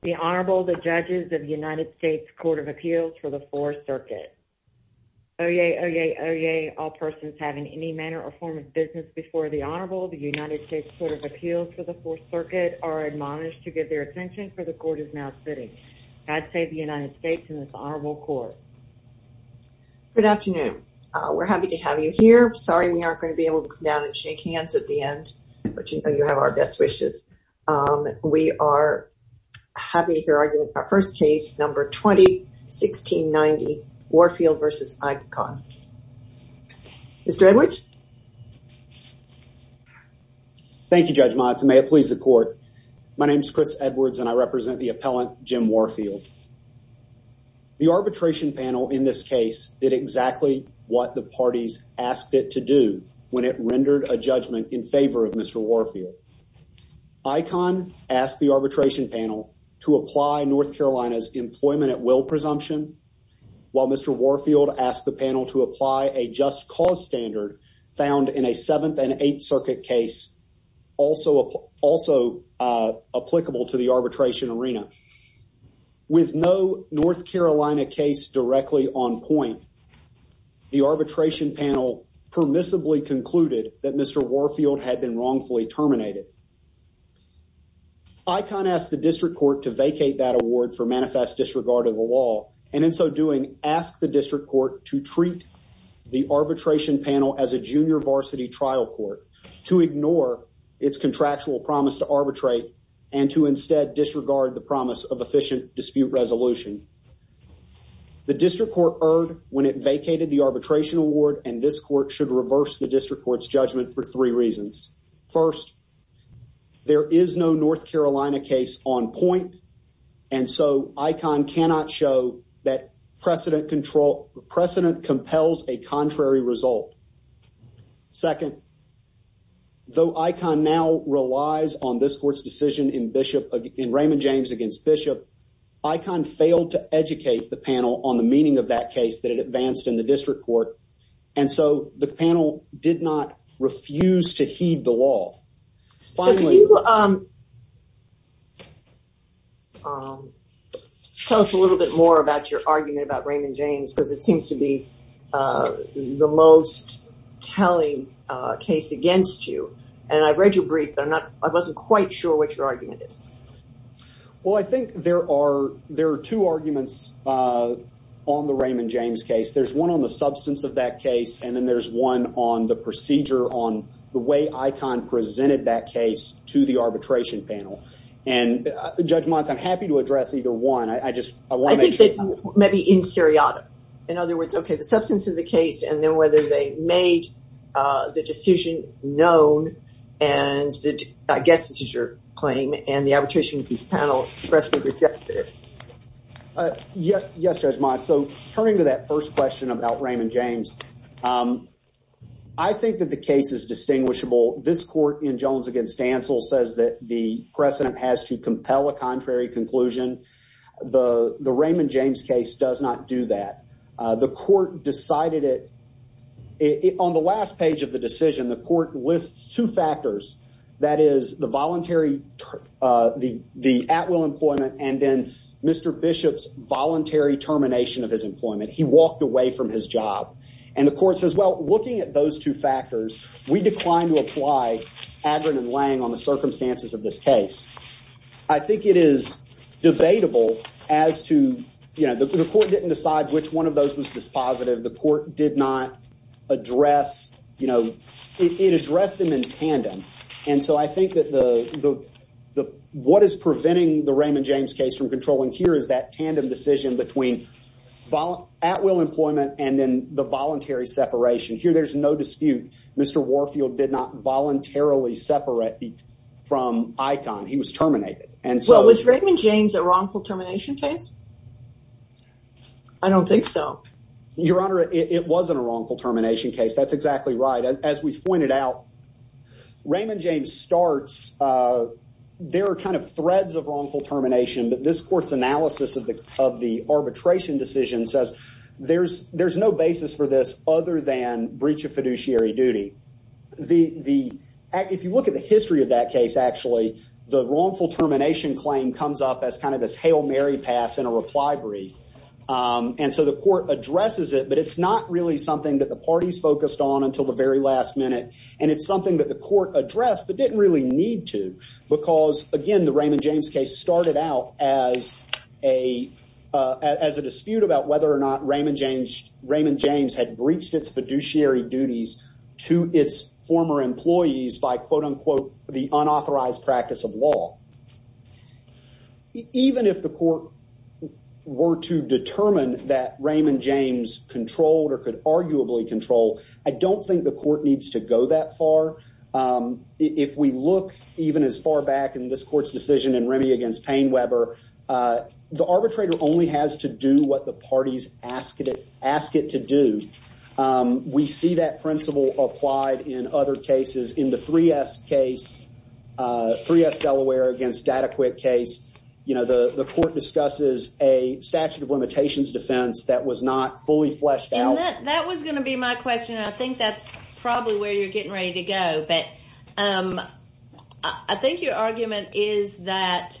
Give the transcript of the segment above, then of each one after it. The Honorable, the Judges of the United States Court of Appeals for the Fourth Circuit. Oyez, oyez, oyez, all persons having any manner or form of business before the Honorable, the United States Court of Appeals for the Fourth Circuit are admonished to give their attention for the Court is now sitting. God save the United States and this Honorable Court. Good afternoon. We're happy to have you here. Sorry, we aren't going to be able to come down and shake hands at the end, but you know, you have our best wishes. We are happy to hear argument about first case number 20-1690, Warfield v. ICON. Mr. Edwards. Thank you, Judge Motz. May it please the Court. My name is Chris Edwards and I represent the appellant, Jim Warfield. The arbitration panel in this case did exactly what the parties asked it to when it rendered a judgment in favor of Mr. Warfield. ICON asked the arbitration panel to apply North Carolina's employment at will presumption, while Mr. Warfield asked the panel to apply a just cause standard found in a Seventh and Eighth Circuit case also applicable to the arbitration arena. With no North Carolina case directly on point, the arbitration panel permissibly concluded that Mr. Warfield had been wrongfully terminated. ICON asked the district court to vacate that award for manifest disregard of the law, and in so doing, asked the district court to treat the arbitration panel as a junior varsity trial court, to ignore its contractual promise to arbitrate and to instead disregard the promise of efficient dispute resolution. The district court erred when it vacated the district court's judgment for three reasons. First, there is no North Carolina case on point, and so ICON cannot show that precedent compels a contrary result. Second, though ICON now relies on this court's decision in Raymond James against Bishop, ICON failed to educate the panel on the meaning of that case that it advanced in the district court, and so the panel did not refuse to heed the law. Tell us a little bit more about your argument about Raymond James, because it seems to be the most telling case against you, and I've read your brief, but I wasn't quite sure what your argument is. Well, I think there are two arguments on the Raymond James case. There's one on the substance of that case, and then there's one on the procedure on the way ICON presented that case to the arbitration panel, and Judge Motz, I'm happy to address either one. Maybe in seriatim. In other words, okay, the substance of the case, and then whether they made the decision known, and I guess this is your claim, and the arbitration panel expressly rejected it. Yes, Judge Motz. So turning to that first question about Raymond James, I think that the case is distinguishable. This court in Jones against Dantzel says that the precedent has to compel a contrary conclusion. The Raymond James case does not do that. The court decided it. On the last page of the decision, the court lists two factors. That is voluntary, the at-will employment, and then Mr. Bishop's voluntary termination of his employment. He walked away from his job, and the court says, well, looking at those two factors, we decline to apply Adron and Lange on the circumstances of this case. I think it is debatable as to, you know, the court didn't decide which one of those was dispositive. The court did address them in tandem, and so I think that what is preventing the Raymond James case from controlling here is that tandem decision between at-will employment and then the voluntary separation. Here, there's no dispute. Mr. Warfield did not voluntarily separate from ICON. He was terminated. Well, was Raymond James a wrongful termination case? I don't think so. Your Honor, it wasn't a wrongful termination case. That's exactly right. As we've pointed out, Raymond James starts, there are kind of threads of wrongful termination, but this court's analysis of the arbitration decision says there's no basis for this other than breach of fiduciary duty. If you look at the history of that case, actually, the wrongful pass in a reply brief, and so the court addresses it, but it's not really something that the party's focused on until the very last minute, and it's something that the court addressed but didn't really need to because, again, the Raymond James case started out as a dispute about whether or not Raymond James had breached its fiduciary duties to its former employees by, quote-unquote, the unauthorized practice of law. Even if the court were to determine that Raymond James controlled or could arguably control, I don't think the court needs to go that far. If we look even as far back in this court's decision in Remy against Payne-Weber, the arbitrator only has to do what the party's asked it to do. We see that principle applied in other cases. In the 3S Delaware against Dataquitt case, the court discusses a statute of limitations defense that was not fully fleshed out. That was going to be my question. I think that's probably where you're getting ready to go, but I think your argument is that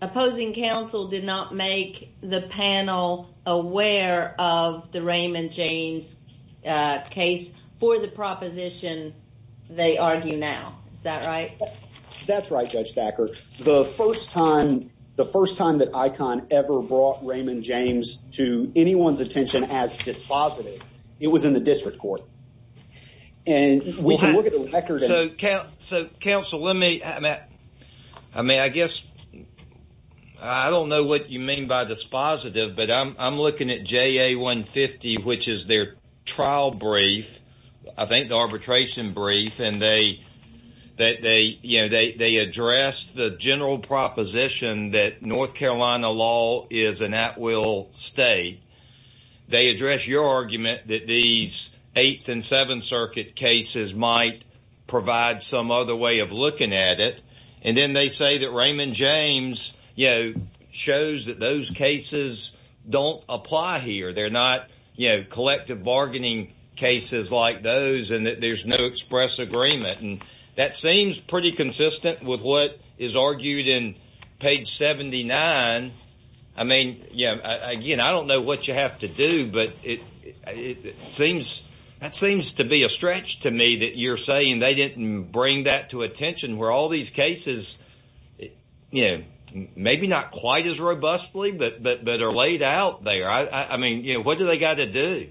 opposing counsel did not make the panel aware of the Raymond James case for the proposition they argue now. Is that right? That's right, Judge Thacker. The first time that ICON ever brought Raymond James to anyone's attention as dispositive, it was in the district court. We can look at the by dispositive, but I'm looking at JA150, which is their trial brief, I think the arbitration brief, and they address the general proposition that North Carolina law is an at-will state. They address your argument that these 8th and 7th Circuit cases might provide some other way of looking at it, and then they say that Raymond James shows that those cases don't apply here. They're not collective bargaining cases like those and that there's no express agreement. That seems pretty consistent with what is argued in page 79. I mean, again, I don't know what you have to do, but that seems to be a stretch to me that you're saying they didn't bring that to attention, where all these cases, maybe not quite as robustly, but are laid out there. I mean, what do they got to do?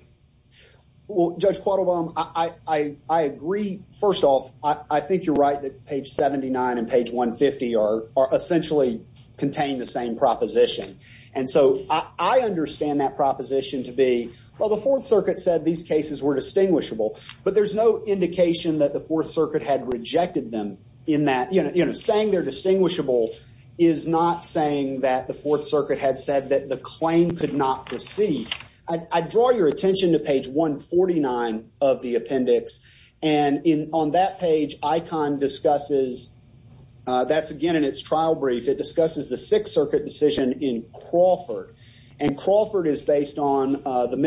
Well, Judge Quattlebaum, I agree. First off, I think you're right that page 79 and page 150 essentially contain the same proposition, and so I understand that proposition to be, well, the 4th Circuit said these cases were distinguishable, but there's no indication that the 4th Circuit had rejected them in that. Saying they're distinguishable is not saying that the 4th Circuit had said that the claim could not proceed. I draw your attention to page 149 of the appendix, and on that page, ICON discusses, that's again in its trial brief, the 6th Circuit decision in Crawford, and Crawford is based on the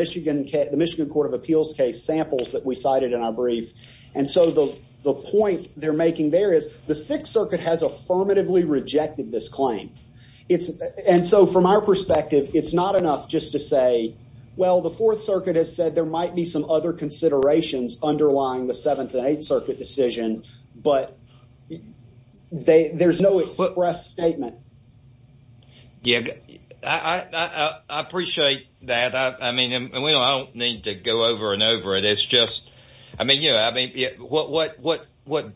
Michigan Court of Appeals case samples that we cited in our brief, and so the point they're making there is the 6th Circuit has affirmatively rejected this claim, and so from our perspective, it's not enough just to say, well, the 4th Circuit has said there might be some other considerations underlying the 7th and 8th Circuit decision, but there's no express statement. Yeah, I appreciate that. I mean, I don't need to go over and over it. It's just, I mean, you know, I mean, what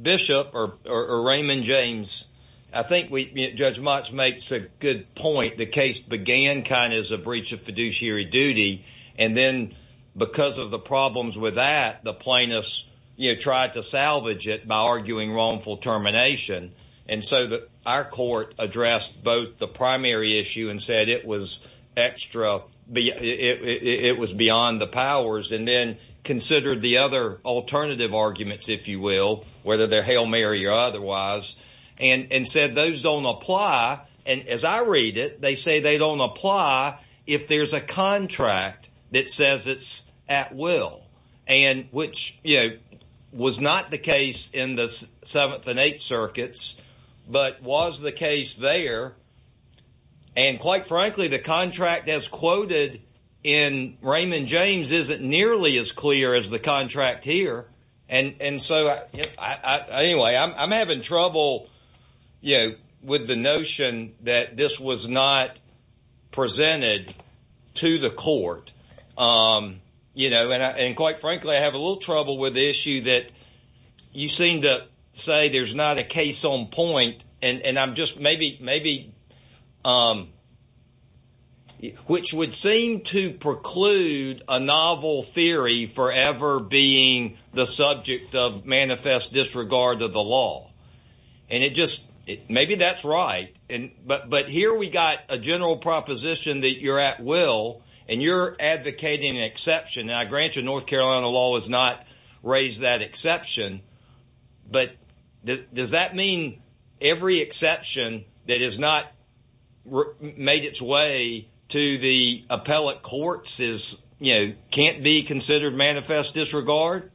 Bishop or Raymond James, I think Judge Motsch makes a good point. The case began kind of as a breach of fiduciary duty, and then because of the problems with that, the plaintiffs, you know, tried to salvage it by arguing wrongful termination, and so our court addressed both the primary issue and said it was extra, it was beyond the powers, and then considered the other alternative arguments, if you will, whether they're Hail Mary or otherwise, and said those don't apply, and as I read it, they say they don't apply if there's a contract that says it's at will, and which, you know, was not the case in the 7th and 8th Circuits, but was the case there, and quite frankly, the contract as quoted in Raymond James isn't nearly as clear as the that this was not presented to the court, you know, and quite frankly, I have a little trouble with the issue that you seem to say there's not a case on point, and I'm just maybe, which would seem to preclude a novel theory forever being the subject of manifest disregard of the law, and it just, maybe that's right, but here we got a general proposition that you're at will, and you're advocating an exception, and I grant you North Carolina law has not raised that exception, but does that mean every exception that has not made its way to the appellate courts is, you know, can't be considered manifest disregard?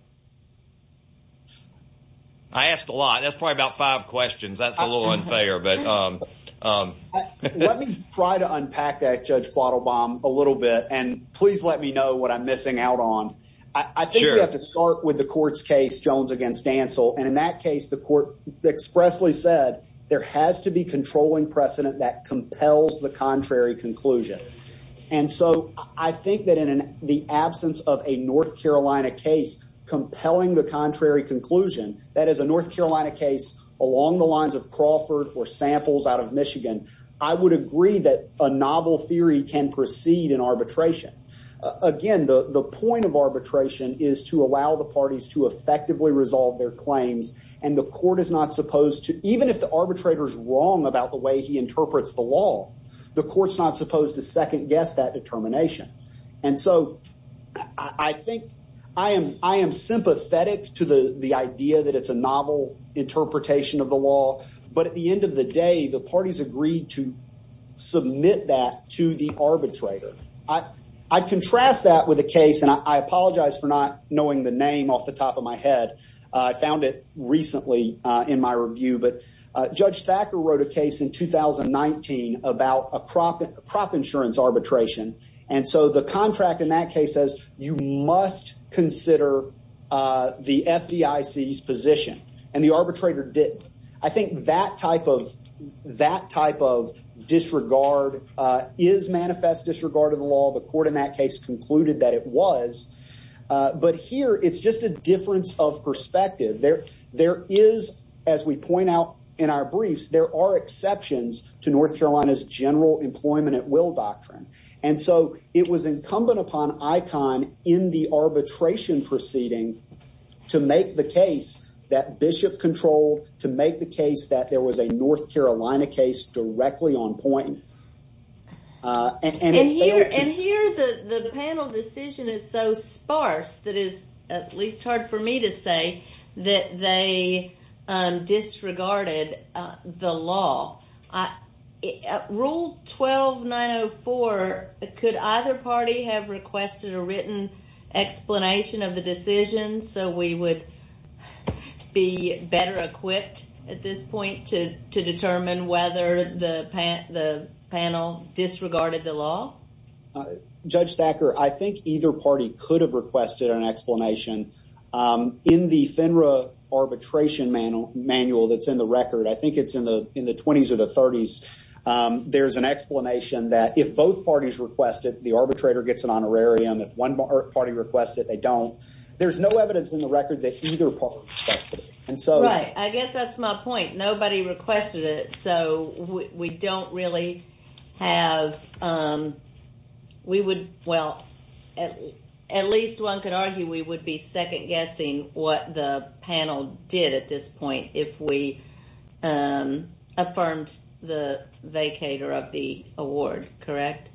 I asked a lot. That's probably about five questions. That's a little unfair, but let me try to unpack that, Judge Plotelbaum, a little bit, and please let me know what I'm missing out on. I think we have to start with the court's case, Jones against Dantzel, and in that case, the court expressly said there has to be controlling precedent that compels the contrary conclusion, and so I think that in the absence of a North Carolina case compelling the contrary conclusion, that is a North Carolina case along the lines of Crawford or samples out of Michigan, I would agree that a novel theory can proceed in arbitration. Again, the point of arbitration is to allow the parties to effectively resolve their claims, and the court is not supposed to, even if the arbitrator's wrong about the way he interprets the law, the court's not supposed to second guess that determination, and so I think I am sympathetic to the idea that it's a novel interpretation of the law, but at the end of the day, the parties agreed to submit that to the arbitrator. I contrast that with a case, and I apologize for not knowing the name off the top of my head. I found it recently in my review, but Judge Thacker wrote a case in 2019 about a crop insurance arbitration, and so the contract in that case says you must consider the FDIC's position, and the arbitrator didn't. I think that type of disregard is manifest disregard of the law. The court in that case concluded that it was, but here it's just a difference of perspective. There is, as we point out in our briefs, there are exceptions to North Carolina's general employment at will doctrine, and so it was incumbent upon ICON in the arbitration proceeding to make the case that Bishop controlled, to make the case that there was a North Carolina case directly on point. And here the panel decision is so sparse that it is at least hard for me to say that they disregarded the law. Rule 12904, could either party have requested a written explanation of the decision so we would be better equipped at this point to determine whether the panel disregarded the law? Judge Thacker, I think either party could have requested an explanation. In the FINRA arbitration manual that's in the record, I think it's in the 20s or the 30s, there's an explanation that if both parties request it, the arbitrator gets an honorarium. If one party requests it, they don't. There's no evidence in the record that either party requested it. Right. I guess that's my point. Nobody requested it, so we don't really have... At least one could argue we would be second-guessing what the panel did at this point if we vacated the award, correct?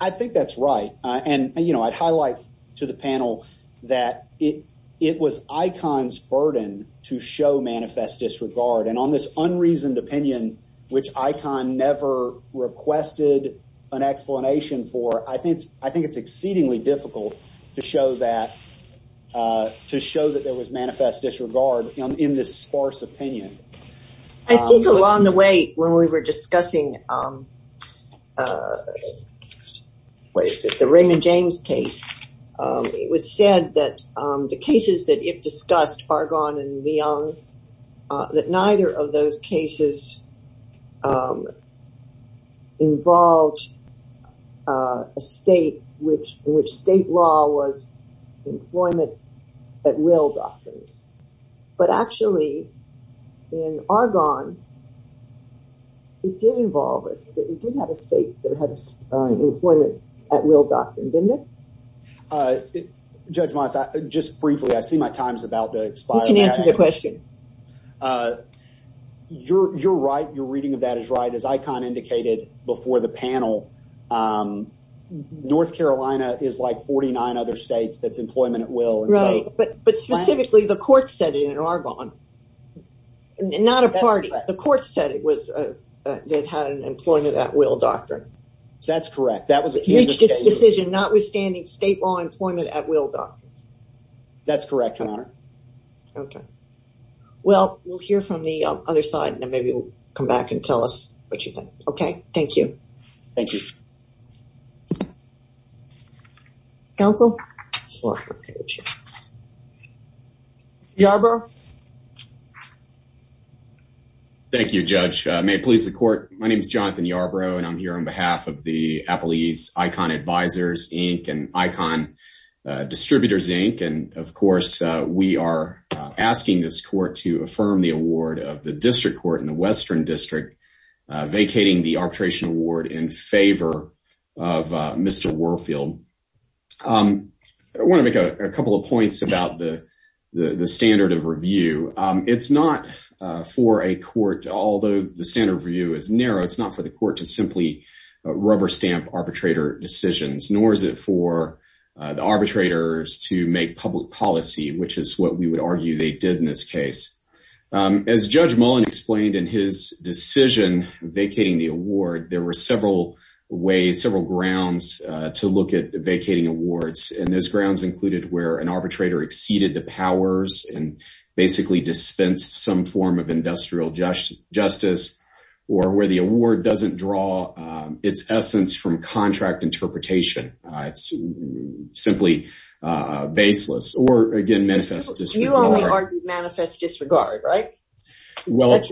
I think that's right. I'd highlight to the panel that it was ICON's burden to show manifest disregard. And on this unreasoned opinion, which ICON never requested an explanation for, I think it's exceedingly difficult to show that there was manifest disregard in this sparse opinion. I think along the way, when we were discussing the Raymond James case, it was said that the cases that Ip discussed, Argonne and Myung, that neither of those cases involved a state in which state law was employment at will, but actually in Argonne, it did involve a state that had employment at will doctrine, didn't it? Judge Montz, just briefly, I see my time is about to expire. You can answer the question. You're right. Your reading of that is right. As ICON indicated before the panel, North Carolina is like 49 other states that's employment at will. But specifically, the court said it in Argonne, not a party. The court said it had an employment at will doctrine. That's correct. That was a decision notwithstanding state law employment at will doctrine. That's correct, Your Honor. Okay. Well, we'll hear from the other side and then maybe we'll come back and tell us what you think. Okay. Thank you. Thank you. Counsel? Yarbrough? Thank you, Judge. May it please the court. My name is Jonathan Yarbrough and I'm here on behalf of the appellees, ICON Advisors, Inc. and ICON Distributors, Inc. And of course, we are asking this court to affirm the award of the District Court in the Western District vacating the Warfield. I want to make a couple of points about the standard of review. It's not for a court, although the standard of review is narrow, it's not for the court to simply rubber stamp arbitrator decisions, nor is it for the arbitrators to make public policy, which is what we would argue they did in this case. As Judge Mullen explained in his decision vacating the award, there were several ways, several grounds to look at vacating awards. And those grounds included where an arbitrator exceeded the powers and basically dispensed some form of industrial justice or where the award doesn't draw its essence from contract interpretation. It's simply baseless or, again, manifest disregard. You only argued manifest disregard, right? Well,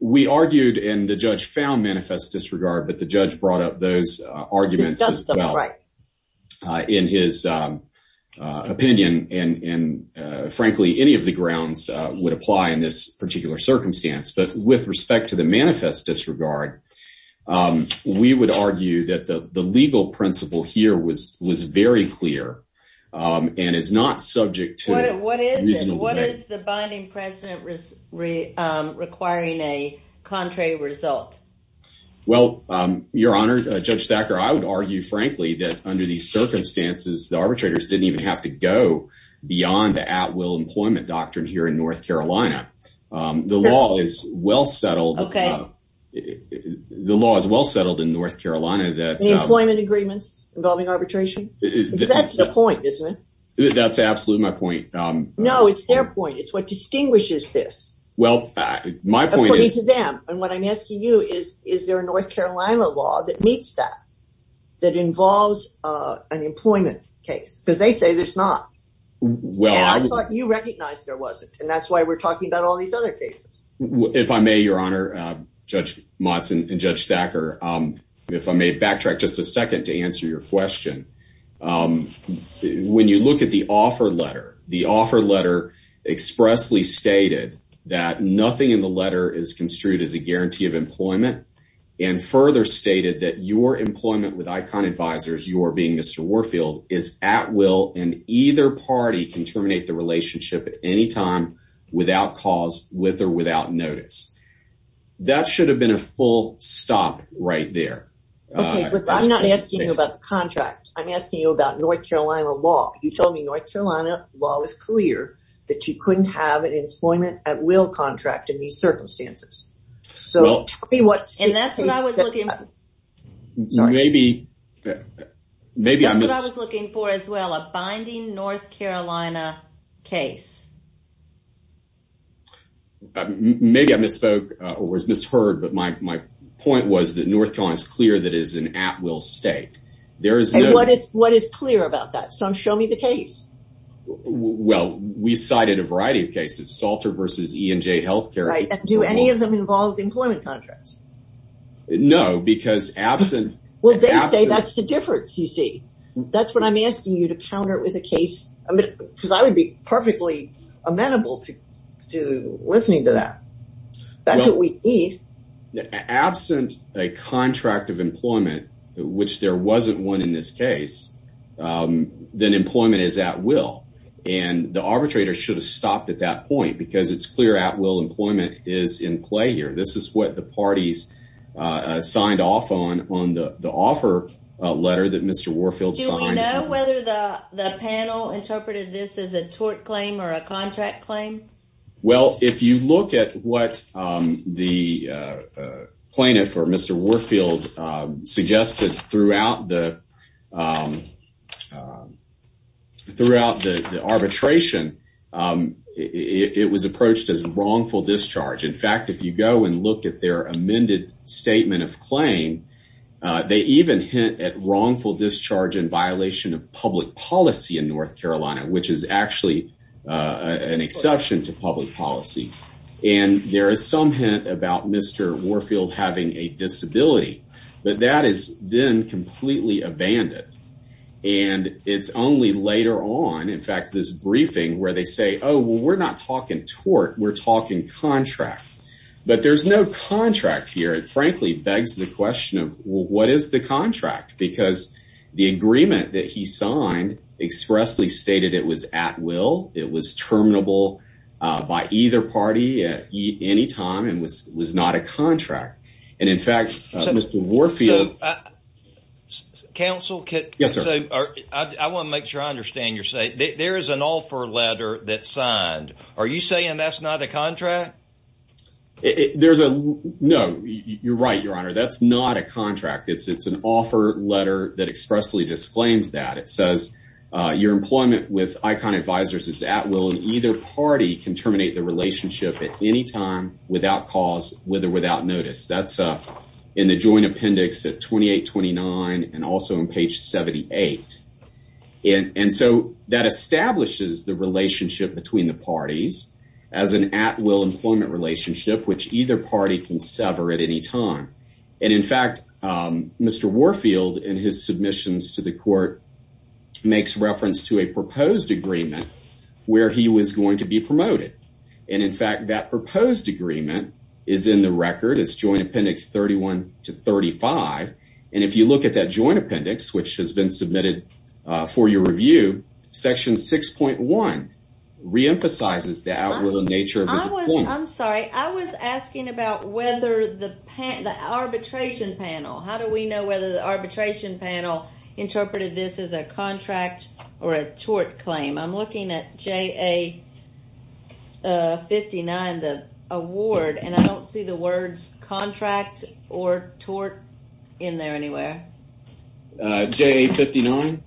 we argued and the judge found manifest disregard, but the judge brought up those arguments as well in his opinion. And frankly, any of the grounds would apply in this particular circumstance. But with respect to the manifest disregard, we would argue that the legal principle here was very clear and is not subject to... What is it? What is the binding precedent requiring a contrary result? Well, Your Honor, Judge Thacker, I would argue, frankly, that under these circumstances, the arbitrators didn't even have to go beyond the at-will employment doctrine here in North Carolina. The law is well settled. The law is well settled in North Carolina that... Involving arbitration? That's the point, isn't it? That's absolutely my point. No, it's their point. It's what distinguishes this. Well, my point is... According to them. And what I'm asking you is, is there a North Carolina law that meets that, that involves an employment case? Because they say there's not. And I thought you recognized there wasn't. And that's why we're talking about all these other cases. If I may, Your Honor, Judge Motz and Judge Thacker, if I may backtrack just a second to answer your question. When you look at the offer letter, the offer letter expressly stated that nothing in the letter is construed as a guarantee of employment and further stated that your employment with ICON Advisors, you are being Mr. Warfield, is at will and either party can terminate the relationship at any time without cause, with or without notice. That should have been a full stop right there. Okay, but I'm not asking you about the contract. I'm asking you about North Carolina law. You told me North Carolina law was clear that you couldn't have an employment at will contract in these circumstances. So, tell me what... And that's what I was looking for. Maybe, maybe... That's what I was looking for as well, a binding North Carolina case. Maybe I misspoke or was misheard, but my point was that North Carolina is clear that it is an at will state. There is no... And what is clear about that? So, show me the case. Well, we cited a variety of cases, Salter versus ENJ Healthcare. Right, and do any of them involve employment contracts? No, because absent... Well, they say that's the difference, you see. That's what I'm asking you to counter with a case, because I would be perfectly amenable to listening to that. That's what we need. Absent a contract of employment, which there wasn't one in this case, then employment is at will. And the arbitrator should have stopped at that point because it's clear at will employment is in play here. This is what the parties signed off on, on the offer letter that Mr. Warfield signed. Whether the panel interpreted this as a tort claim or a contract claim? Well, if you look at what the plaintiff or Mr. Warfield suggested throughout the arbitration, it was approached as wrongful discharge. In fact, if you go and look at their public policy in North Carolina, which is actually an exception to public policy, and there is some hint about Mr. Warfield having a disability, but that is then completely abandoned. And it's only later on, in fact, this briefing where they say, oh, well, we're not talking tort, we're talking contract. But there's no contract here. It frankly begs the question of what is the contract? Because the agreement that he signed expressly stated it was at will, it was terminable by either party at any time and was not a contract. And in fact, Mr. Warfield... Counsel, I want to make sure I understand you're saying, there is an offer letter that's signed. Are you saying that's not a contract? There's a... No, you're right, Your Honor. That's not a contract. It's an offer letter that expressly disclaims that. It says your employment with Icon Advisors is at will and either party can terminate the relationship at any time without cause, with or without notice. That's in the joint appendix at 2829 and also on page 78. And so that establishes the relationship between the parties as an at will employment relationship which either party can sever at any time. And in fact, Mr. Warfield in his submissions to the court makes reference to a proposed agreement where he was going to be promoted. And in fact, that proposed agreement is in the record, it's joint appendix 31 to 35. And if you look at that joint appendix, which has been submitted for your review, section 6.1 reemphasizes the outward nature... I'm sorry, I was asking about whether the arbitration panel, how do we know whether the arbitration panel interpreted this as a contract or a tort claim? I'm looking at JA59, the award, and I don't see the words contract or tort in there anywhere. JA59?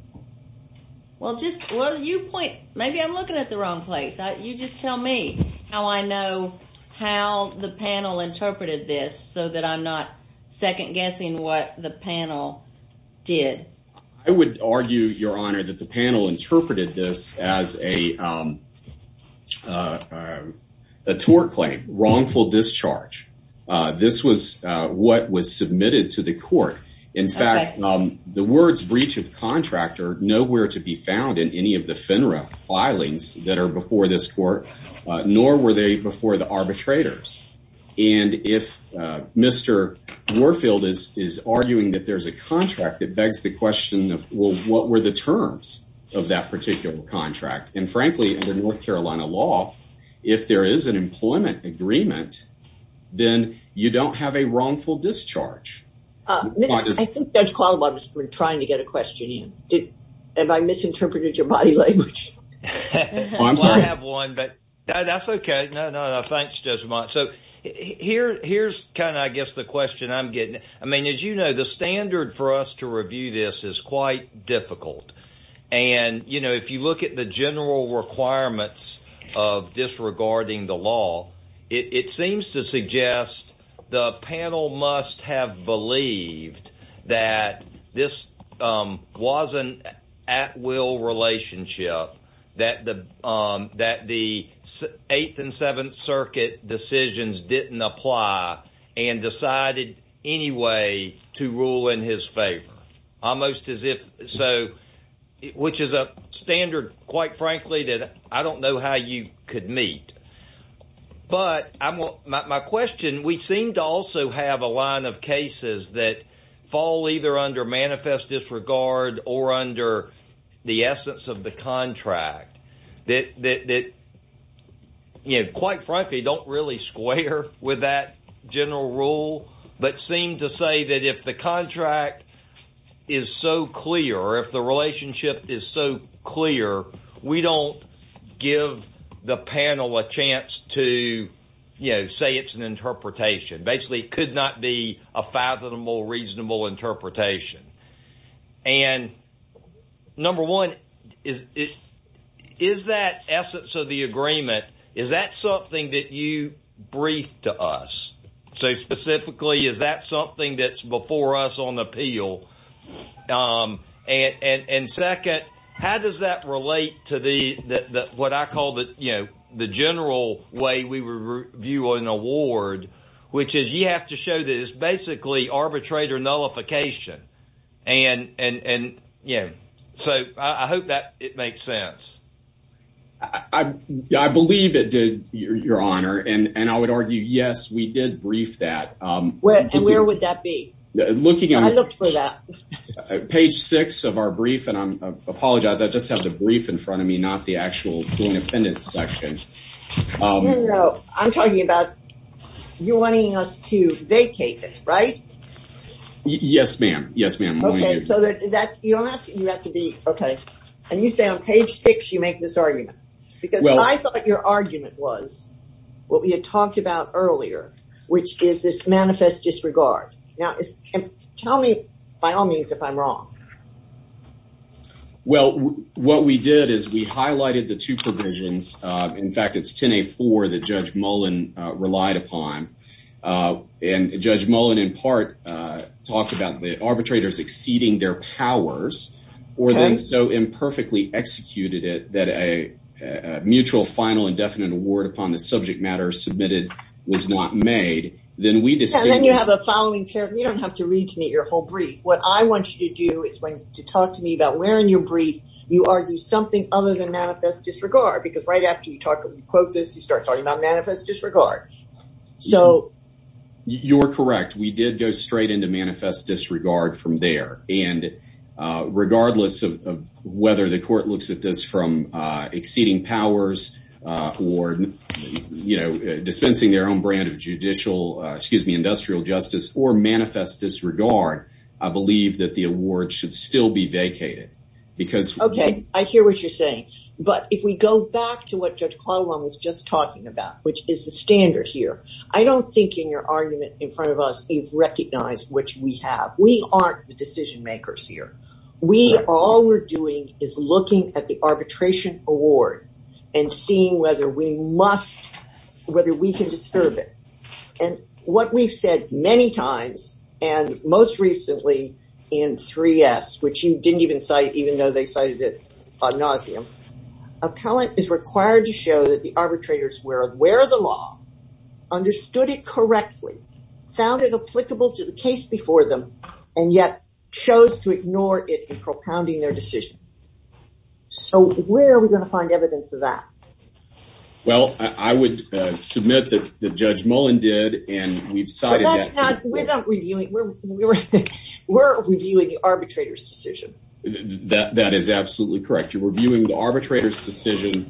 Well, just, well, you point, maybe I'm looking at the wrong place. You just tell me how I know how the panel interpreted this so that I'm not second guessing what the panel did. I would argue, Your Honor, that the panel interpreted this as a tort claim, wrongful discharge. This was what was submitted to the court. In fact, the words breach of contract are nowhere to be found in any of the FINRA filings that are before this court, nor were they before the arbitrators. And if Mr. Warfield is arguing that there's a contract, it begs the question of, well, what were the terms of that particular contract? And frankly, under North Carolina law, if there is an employment agreement, then you don't have a wrongful discharge. I think Judge Qualamon has been trying to get a question in. Have I misinterpreted your body language? I'm sorry. Well, I have one, but that's okay. No, no, no. Thanks, Judge Quant. So here's kind of, I guess, the question I'm getting. I mean, as you know, the standard for us to review this is quite difficult. And, you know, if you look at the general requirements of disregarding the law, it seems to suggest the panel must have believed that this was an at-will relationship, that the Eighth and Seventh Circuit decisions didn't apply and decided anyway to rule in his favor, almost as if so, which is a standard, quite frankly, that I don't know how you could meet. But my question, we seem to also have a line of cases that fall either under manifest disregard or under the essence of the contract that, you know, quite frankly, don't really square with that general rule, but seem to say that if the contract is so clear or if the relationship is so clear, we don't give the panel a chance to, you know, say it's an interpretation. Basically, it could not be a fathomable, reasonable interpretation. And number one, is that essence of the agreement, is that something that you briefed to us? So, specifically, is that something that's before us on appeal? And second, how does that relate to what I call the, you know, the general way we review an award, which is you have to show that it's basically arbitrate or nullification. And, yeah. So, I hope that it makes sense. I believe it did, Your Honor. And I would argue, yes, we did brief that. And where would that be? I looked for that. Page six of our brief, and I apologize, I just have the brief in front of me, not the actual joint appendix section. No, no. I'm talking about you wanting us to vacate it, right? Yes, ma'am. Yes, ma'am. Okay. So, that's, you don't have to, you have to be, okay. And you say on page six, you make this argument. Because I thought your argument was what we had talked about earlier, which is this manifest disregard. Now, tell me, by all means, if I'm wrong. Well, what we did is we highlighted the two provisions. In fact, it's 10A4 that Judge Mullen, in part, talked about the arbitrators exceeding their powers, or then so imperfectly executed it that a mutual final indefinite award upon the subject matter submitted was not made, then we just. And then you have a following paragraph. You don't have to read to me your whole brief. What I want you to do is to talk to me about where in your brief you argue something other than manifest disregard. Because right after you quote this, you start talking about You're correct. We did go straight into manifest disregard from there. And regardless of whether the court looks at this from exceeding powers, or, you know, dispensing their own brand of judicial, excuse me, industrial justice, or manifest disregard, I believe that the award should still be vacated. Because Okay, I hear what you're saying. But if we go back to what Judge in front of us, he's recognized which we have, we aren't the decision makers here. We all we're doing is looking at the arbitration award, and seeing whether we must, whether we can disturb it. And what we've said many times, and most recently, in three s, which you didn't even cite, even though they cited it ad nauseum, appellant is required to show that arbitrators were aware of the law, understood it correctly, found it applicable to the case before them, and yet chose to ignore it and propounding their decision. So where are we going to find evidence of that? Well, I would submit that the judge Mullen did, and we've we're reviewing the arbitrator's decision. That is absolutely correct. You're reviewing the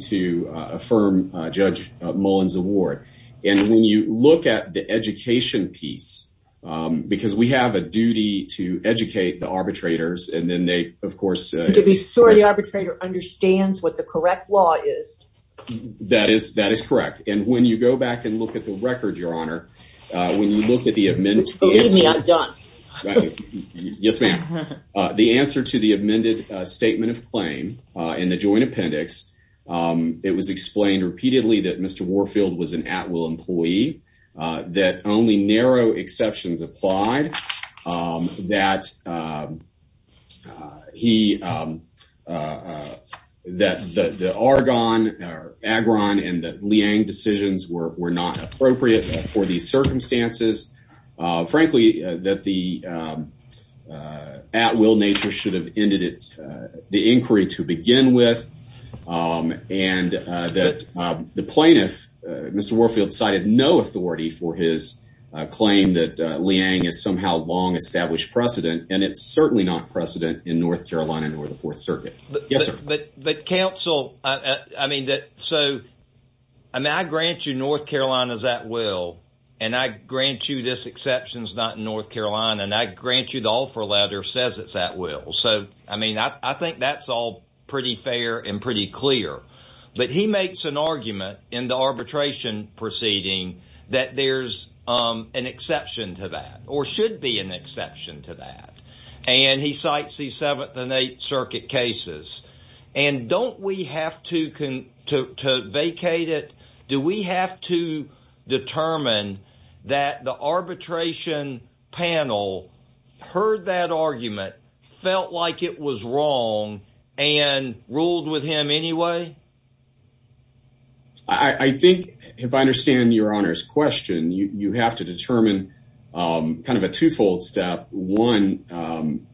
to affirm Judge Mullins award. And when you look at the education piece, because we have a duty to educate the arbitrators, and then they of course, to be sure the arbitrator understands what the correct law is. That is that is correct. And when you go back and look at the record, Your Honor, when you look at the amendment, I'm done. Yes, ma'am. The answer to the amended statement of in the joint appendix. It was explained repeatedly that Mr. Warfield was an at will employee that only narrow exceptions applied. That he that the Argonne or Agron and that Liang decisions were not appropriate for these circumstances. Frankly, that the at will nature should have the inquiry to begin with. And that the plaintiff, Mr. Warfield cited no authority for his claim that Liang is somehow long established precedent. And it's certainly not precedent in North Carolina nor the Fourth Circuit. Yes, sir. But but counsel, I mean, that so I grant you North Carolina's at will. And I grant you this exceptions, not North Carolina. And I grant you the offer letter says it's at will. So I mean, I think that's all pretty fair and pretty clear. But he makes an argument in the arbitration proceeding that there's an exception to that or should be an exception to that. And he cites the Seventh and Eighth Circuit cases. And don't we have to vacate it? Do we have to determine that the arbitration panel heard that argument, felt like it was wrong and ruled with him anyway? I think if I understand your honor's question, you have to determine kind of a twofold step. One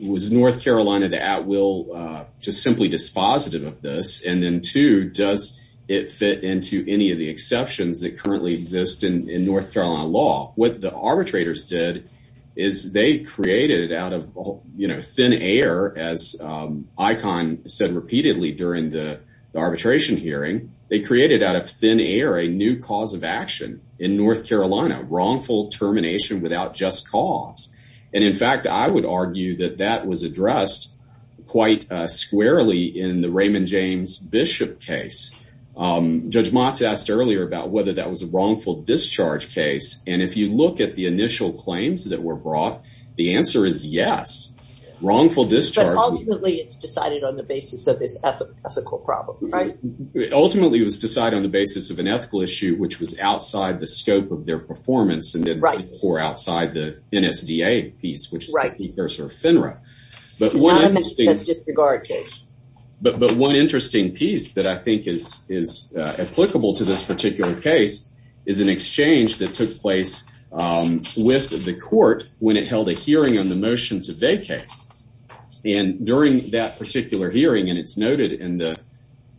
was North Carolina the at will just simply dispositive of this. And then two, does it fit into any of the exceptions that currently exist in North Carolina law? What the arbitrators did is they created out of thin air, as Icon said repeatedly during the arbitration hearing, they created out of thin air a new cause of action in North Carolina, wrongful termination without just cause. And in fact, I would argue that that was addressed quite squarely in the Judge Motz asked earlier about whether that was a wrongful discharge case. And if you look at the initial claims that were brought, the answer is yes, wrongful discharge. Ultimately, it's decided on the basis of this ethical ethical problem, right? Ultimately, it was decided on the basis of an ethical issue, which was outside the scope of their performance and right for outside the NSDA piece, which is right. There's her FINRA. But one has just regarded. But one interesting piece that I think is is applicable to this particular case is an exchange that took place with the court when it held a hearing on the motion to vacate. And during that particular hearing, and it's noted in the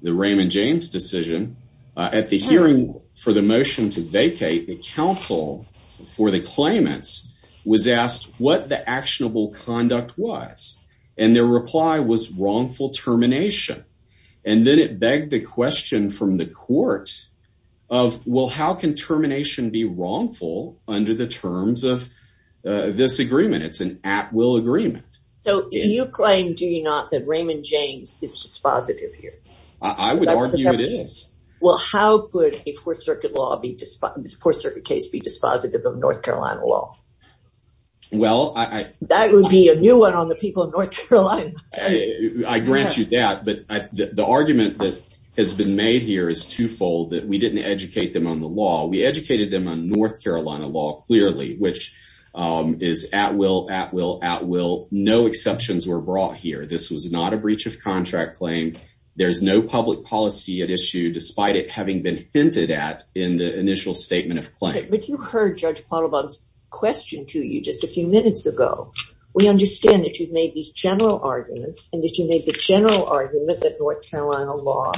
Raymond James decision at the hearing for the motion to vacate the council for the claimants was asked what the actionable conduct was, and their reply was wrongful termination. And then it begged the question from the court of, well, how can termination be wrongful under the terms of this agreement? It's an at will agreement. So you claim, do you not, that Raymond James is dispositive here? I would argue it is. Well, how could a Fourth Circuit law be, Fourth Circuit case be dispositive of North Carolina law? Well, I. That would be a new one on the people of North Carolina. I grant you that. But the argument that has been made here is twofold, that we didn't educate them on the law. We educated them on North Carolina law clearly, which is at will, at will, at will. No exceptions were brought here. This was not a breach of contract claim. There's no public policy at issue, despite it having been hinted at in the initial statement of claim. But you heard Judge Quattlebaum's question to you just a few minutes ago. We understand that you've made these general arguments and that you made the general argument that North Carolina law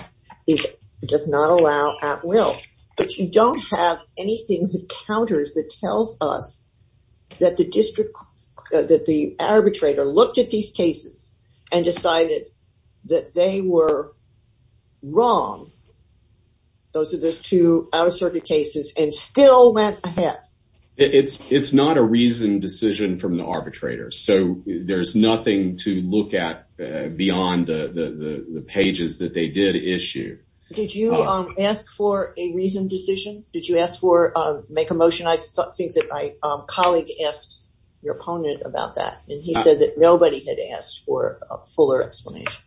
does not allow at will. But you don't have anything that counters, that tells us that the district, that the arbitrator looked at these cases and decided that they were wrong. Those are those two out of circuit cases and still went ahead. It's not a reasoned decision from the arbitrator. So there's nothing to look at beyond the pages that they did issue. Did you ask for a reasoned decision? Did you ask for make a motion? I think that my colleague asked your opponent about that and he said that nobody had asked for a fuller explanation.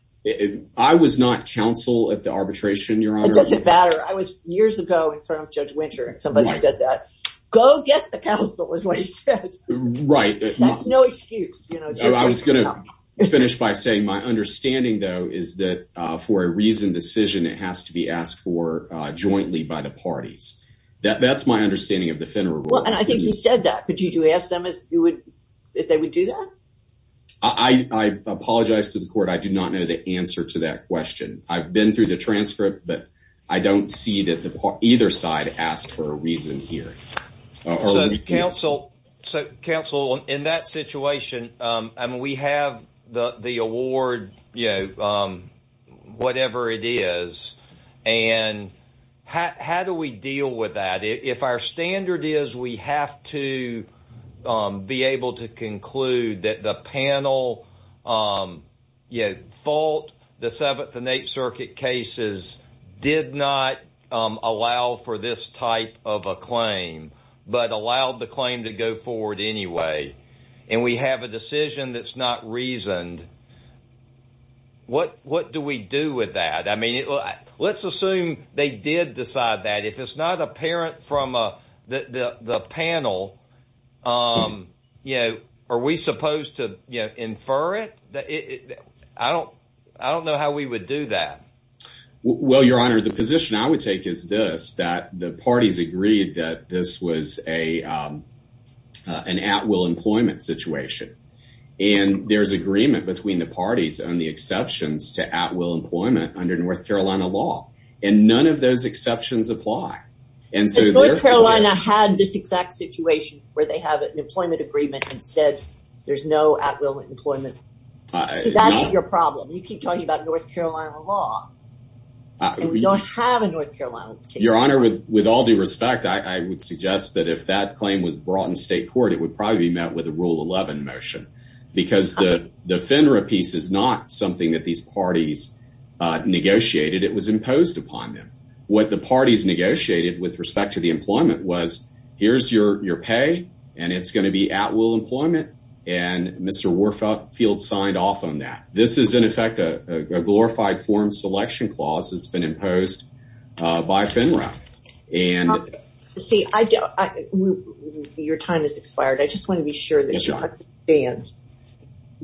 I was not counsel at the arbitration, Your Honor. It doesn't matter. I was years ago in front of Judge Winter and somebody said that, go get the counsel is what he said. Right. That's no excuse. I was going to finish by saying my understanding, though, is that for a reasoned decision, it has to be asked for jointly by the parties. That's my understanding of the federal rule. And I think you said that, but did you ask them if they would do that? I apologize to the court. I do not know the answer to that question. I've been through the transcript, but I don't see that either side asked for a reason here. So, counsel, in that situation, I mean, we have the award, you know, whatever it is. And how do we deal with that if our standard is we have to be able to conclude that the panel on fault, the Seventh and Eighth Circuit cases did not allow for this type of a claim, but allowed the claim to go forward anyway. And we have a decision that's not reasoned. What what do we do with that? I mean, let's assume they did decide that if it's not apparent from the panel, you know, are we supposed to infer it? I don't know how we would do that. Well, your honor, the position I would take is this, that the parties agreed that this was an at will employment situation. And there's agreement between the parties on the exceptions to at will employment under North Carolina law. And none of those exceptions apply. And so North Carolina had this exact situation where they have an employment agreement and said, there's no at will employment. That's your problem. You keep talking about North Carolina law. We don't have a North Carolina case. Your honor, with all due respect, I would suggest that if that claim was brought in state court, it would probably be met with a Rule 11 motion, because the FINRA piece is not something that these parties negotiated. It was imposed upon them. What the parties negotiated with respect to the employment was, here's your pay, and it's going to be at will employment. And Mr. Warfield signed off on that. This is, in effect, a glorified form selection clause that's been imposed by FINRA. See, your time has expired. I just want to be sure that you understand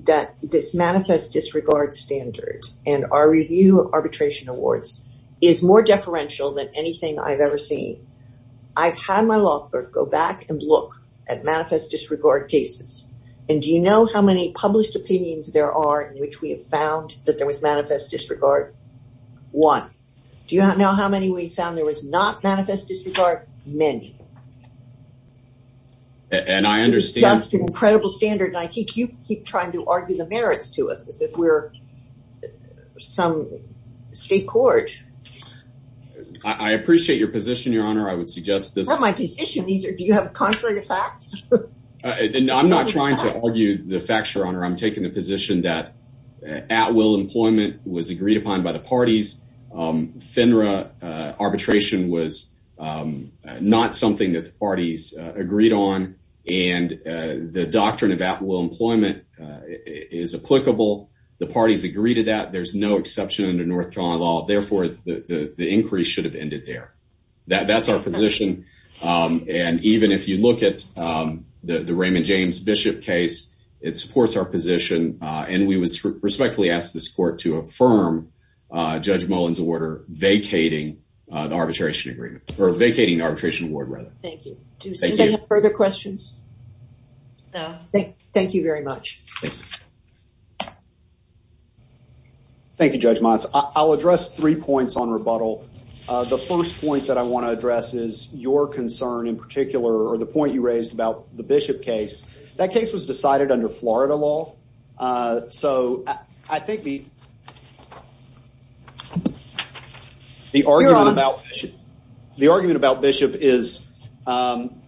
that this manifest disregard standard and our review of arbitration awards is more deferential than anything I've ever seen. I've had my law clerk go back and look at manifest disregard cases. And do you know how many published opinions there are in which we have found that there was manifest disregard? One. Do you know how many we found there was not manifest disregard? Many. And I understand. That's an incredible standard. And I think you keep trying to argue the merits to us as if we're some state court. I appreciate your position, Your Honor. I would suggest this. Not my position. Do you have contrary facts? I'm not trying to argue the facts, Your Honor. I'm taking the position that at will employment was agreed upon by the parties. FINRA arbitration was not something that the parties agreed on. And the doctrine of at will employment is applicable. The parties agree to that. There's no exception under North Carolina law. Therefore, the increase should have ended there. That's our position. And even if you look at the Raymond James Bishop case, it supports our position. And we would respectfully ask this court to affirm Judge Mullen's order vacating the arbitration agreement or vacating arbitration award rather. Thank you. Do you have further questions? No. Thank you very much. Thank you, Judge Motz. I'll address three points on rebuttal. The first point that I want to address is your concern in particular or the point you raised about the Bishop case. That case was um,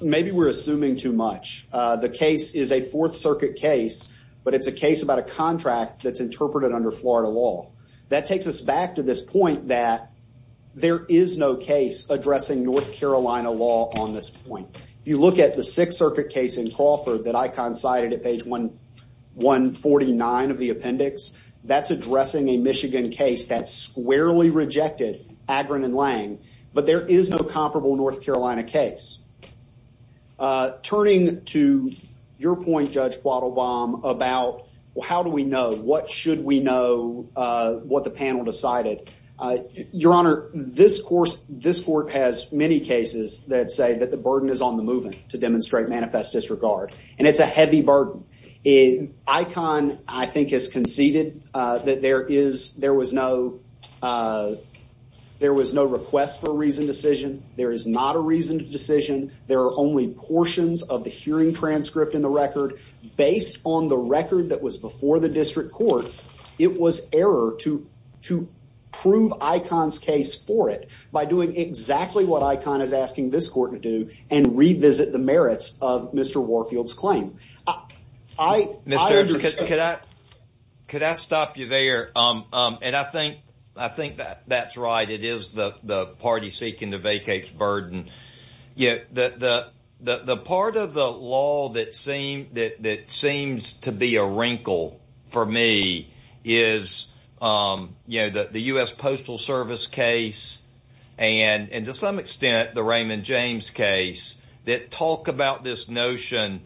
maybe we're assuming too much. The case is a Fourth Circuit case, but it's a case about a contract that's interpreted under Florida law. That takes us back to this point that there is no case addressing North Carolina law on this point. If you look at the Sixth Circuit case in Crawford that Icon cited at page 149 of the appendix, that's addressing a Michigan case that squarely rejected Agron and Lang. But there is no comparable North Carolina case. Turning to your point, Judge Quattlebaum, about how do we know what should we know what the panel decided? Your Honor, this court has many cases that say that the burden is on the movement to demonstrate manifest disregard. And it's a heavy burden. Icon, I think, has conceded that there was no request for a reasoned decision. There is not a reasoned decision. There are only portions of the hearing transcript in the record. Based on the record that was before the district court, it was error to prove Icon's case for it by doing exactly what Icon is asking this court to do and revisit the merits of Mr. Warfield's claim. I understand. Could I stop you there? I think that's right. It is the party seeking to vacate the burden. The part of the law that seems to be a wrinkle for me is the U.S. Postal Service case. And to some extent, the Raymond James case, that talk about this notion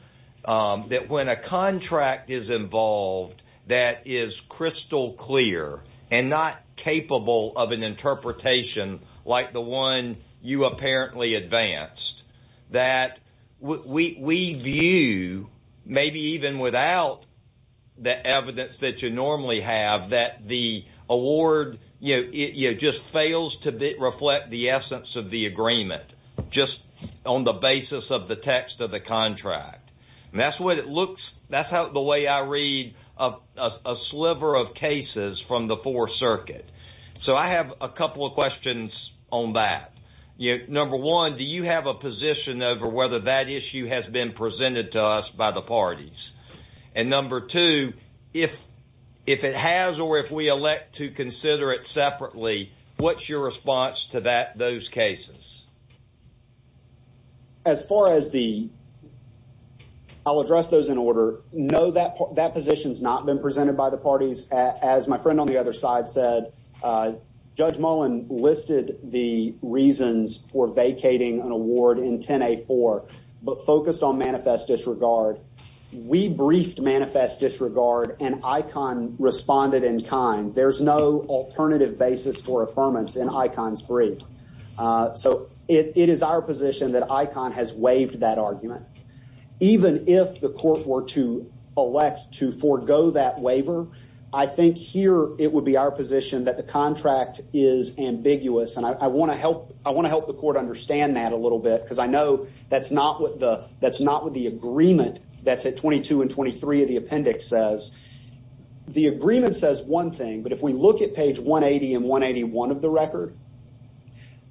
that when a contract is involved that is crystal clear and not capable of an interpretation like the one you apparently advanced, that we view, maybe even without the evidence that you normally have, that the award just fails to reflect the essence of the agreement, just on the basis of the text of the contract. That's the way I read a sliver of cases from the Fourth Circuit. So I have a couple of questions on that. Number one, do you have a position over whether that issue has been presented to us by the parties? And number two, if it has or if we elect to consider it separately, what's your response to those cases? I'll address those in order. No, that position's not been presented by the parties. As my friend on the other side said, Judge Mullen listed the reasons for vacating an award in 10A4, but focused on manifest disregard. We briefed manifest disregard and ICON responded in kind. There's no alternative basis for affirmance in ICON's brief. So it is our position that ICON has waived that argument. Even if the court were to elect to forego that waiver, I think here it would be our position that the contract is ambiguous. And I want to help the court understand that a little bit, because I know that's not what the agreement that's at 22 and 23 of the appendix says. The agreement says one thing, but if we look at page 180 and 181 of the record,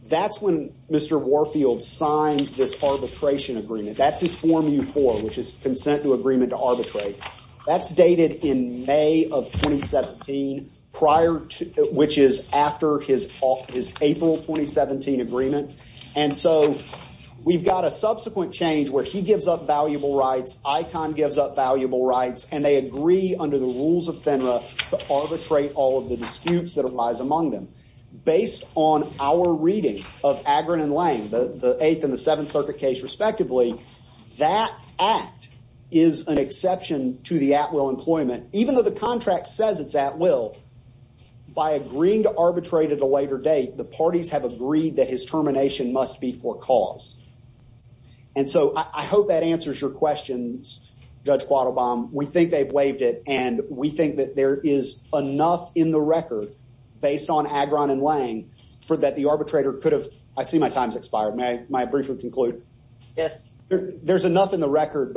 that's when Mr. Warfield signs this arbitration agreement. That's his form U4, which is consent to agreement to arbitrate. That's dated in May of 2017, prior to, which is after his April 2017 agreement. And so we've got a subsequent change where he gives up valuable rights, ICON gives up valuable rights, and they agree under the rules of FINRA to arbitrate all of the disputes that arise among them. Based on our reading of Agron and Lange, the Eighth and the Seventh Circuit case respectively, that act is an exception to the will. By agreeing to arbitrate at a later date, the parties have agreed that his termination must be for cause. And so I hope that answers your questions, Judge Quattlebaum. We think they've waived it, and we think that there is enough in the record, based on Agron and Lange, for that the arbitrator could have, I see my time's expired, may I briefly conclude? Yes. There's enough in the record.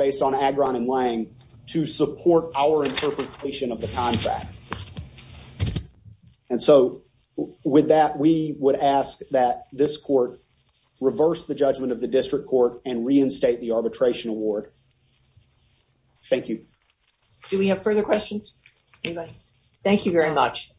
And so with that, we would ask that this court reverse the judgment of the district court and reinstate the arbitration award. Thank you. Do we have further questions? Anybody? Thank you very much.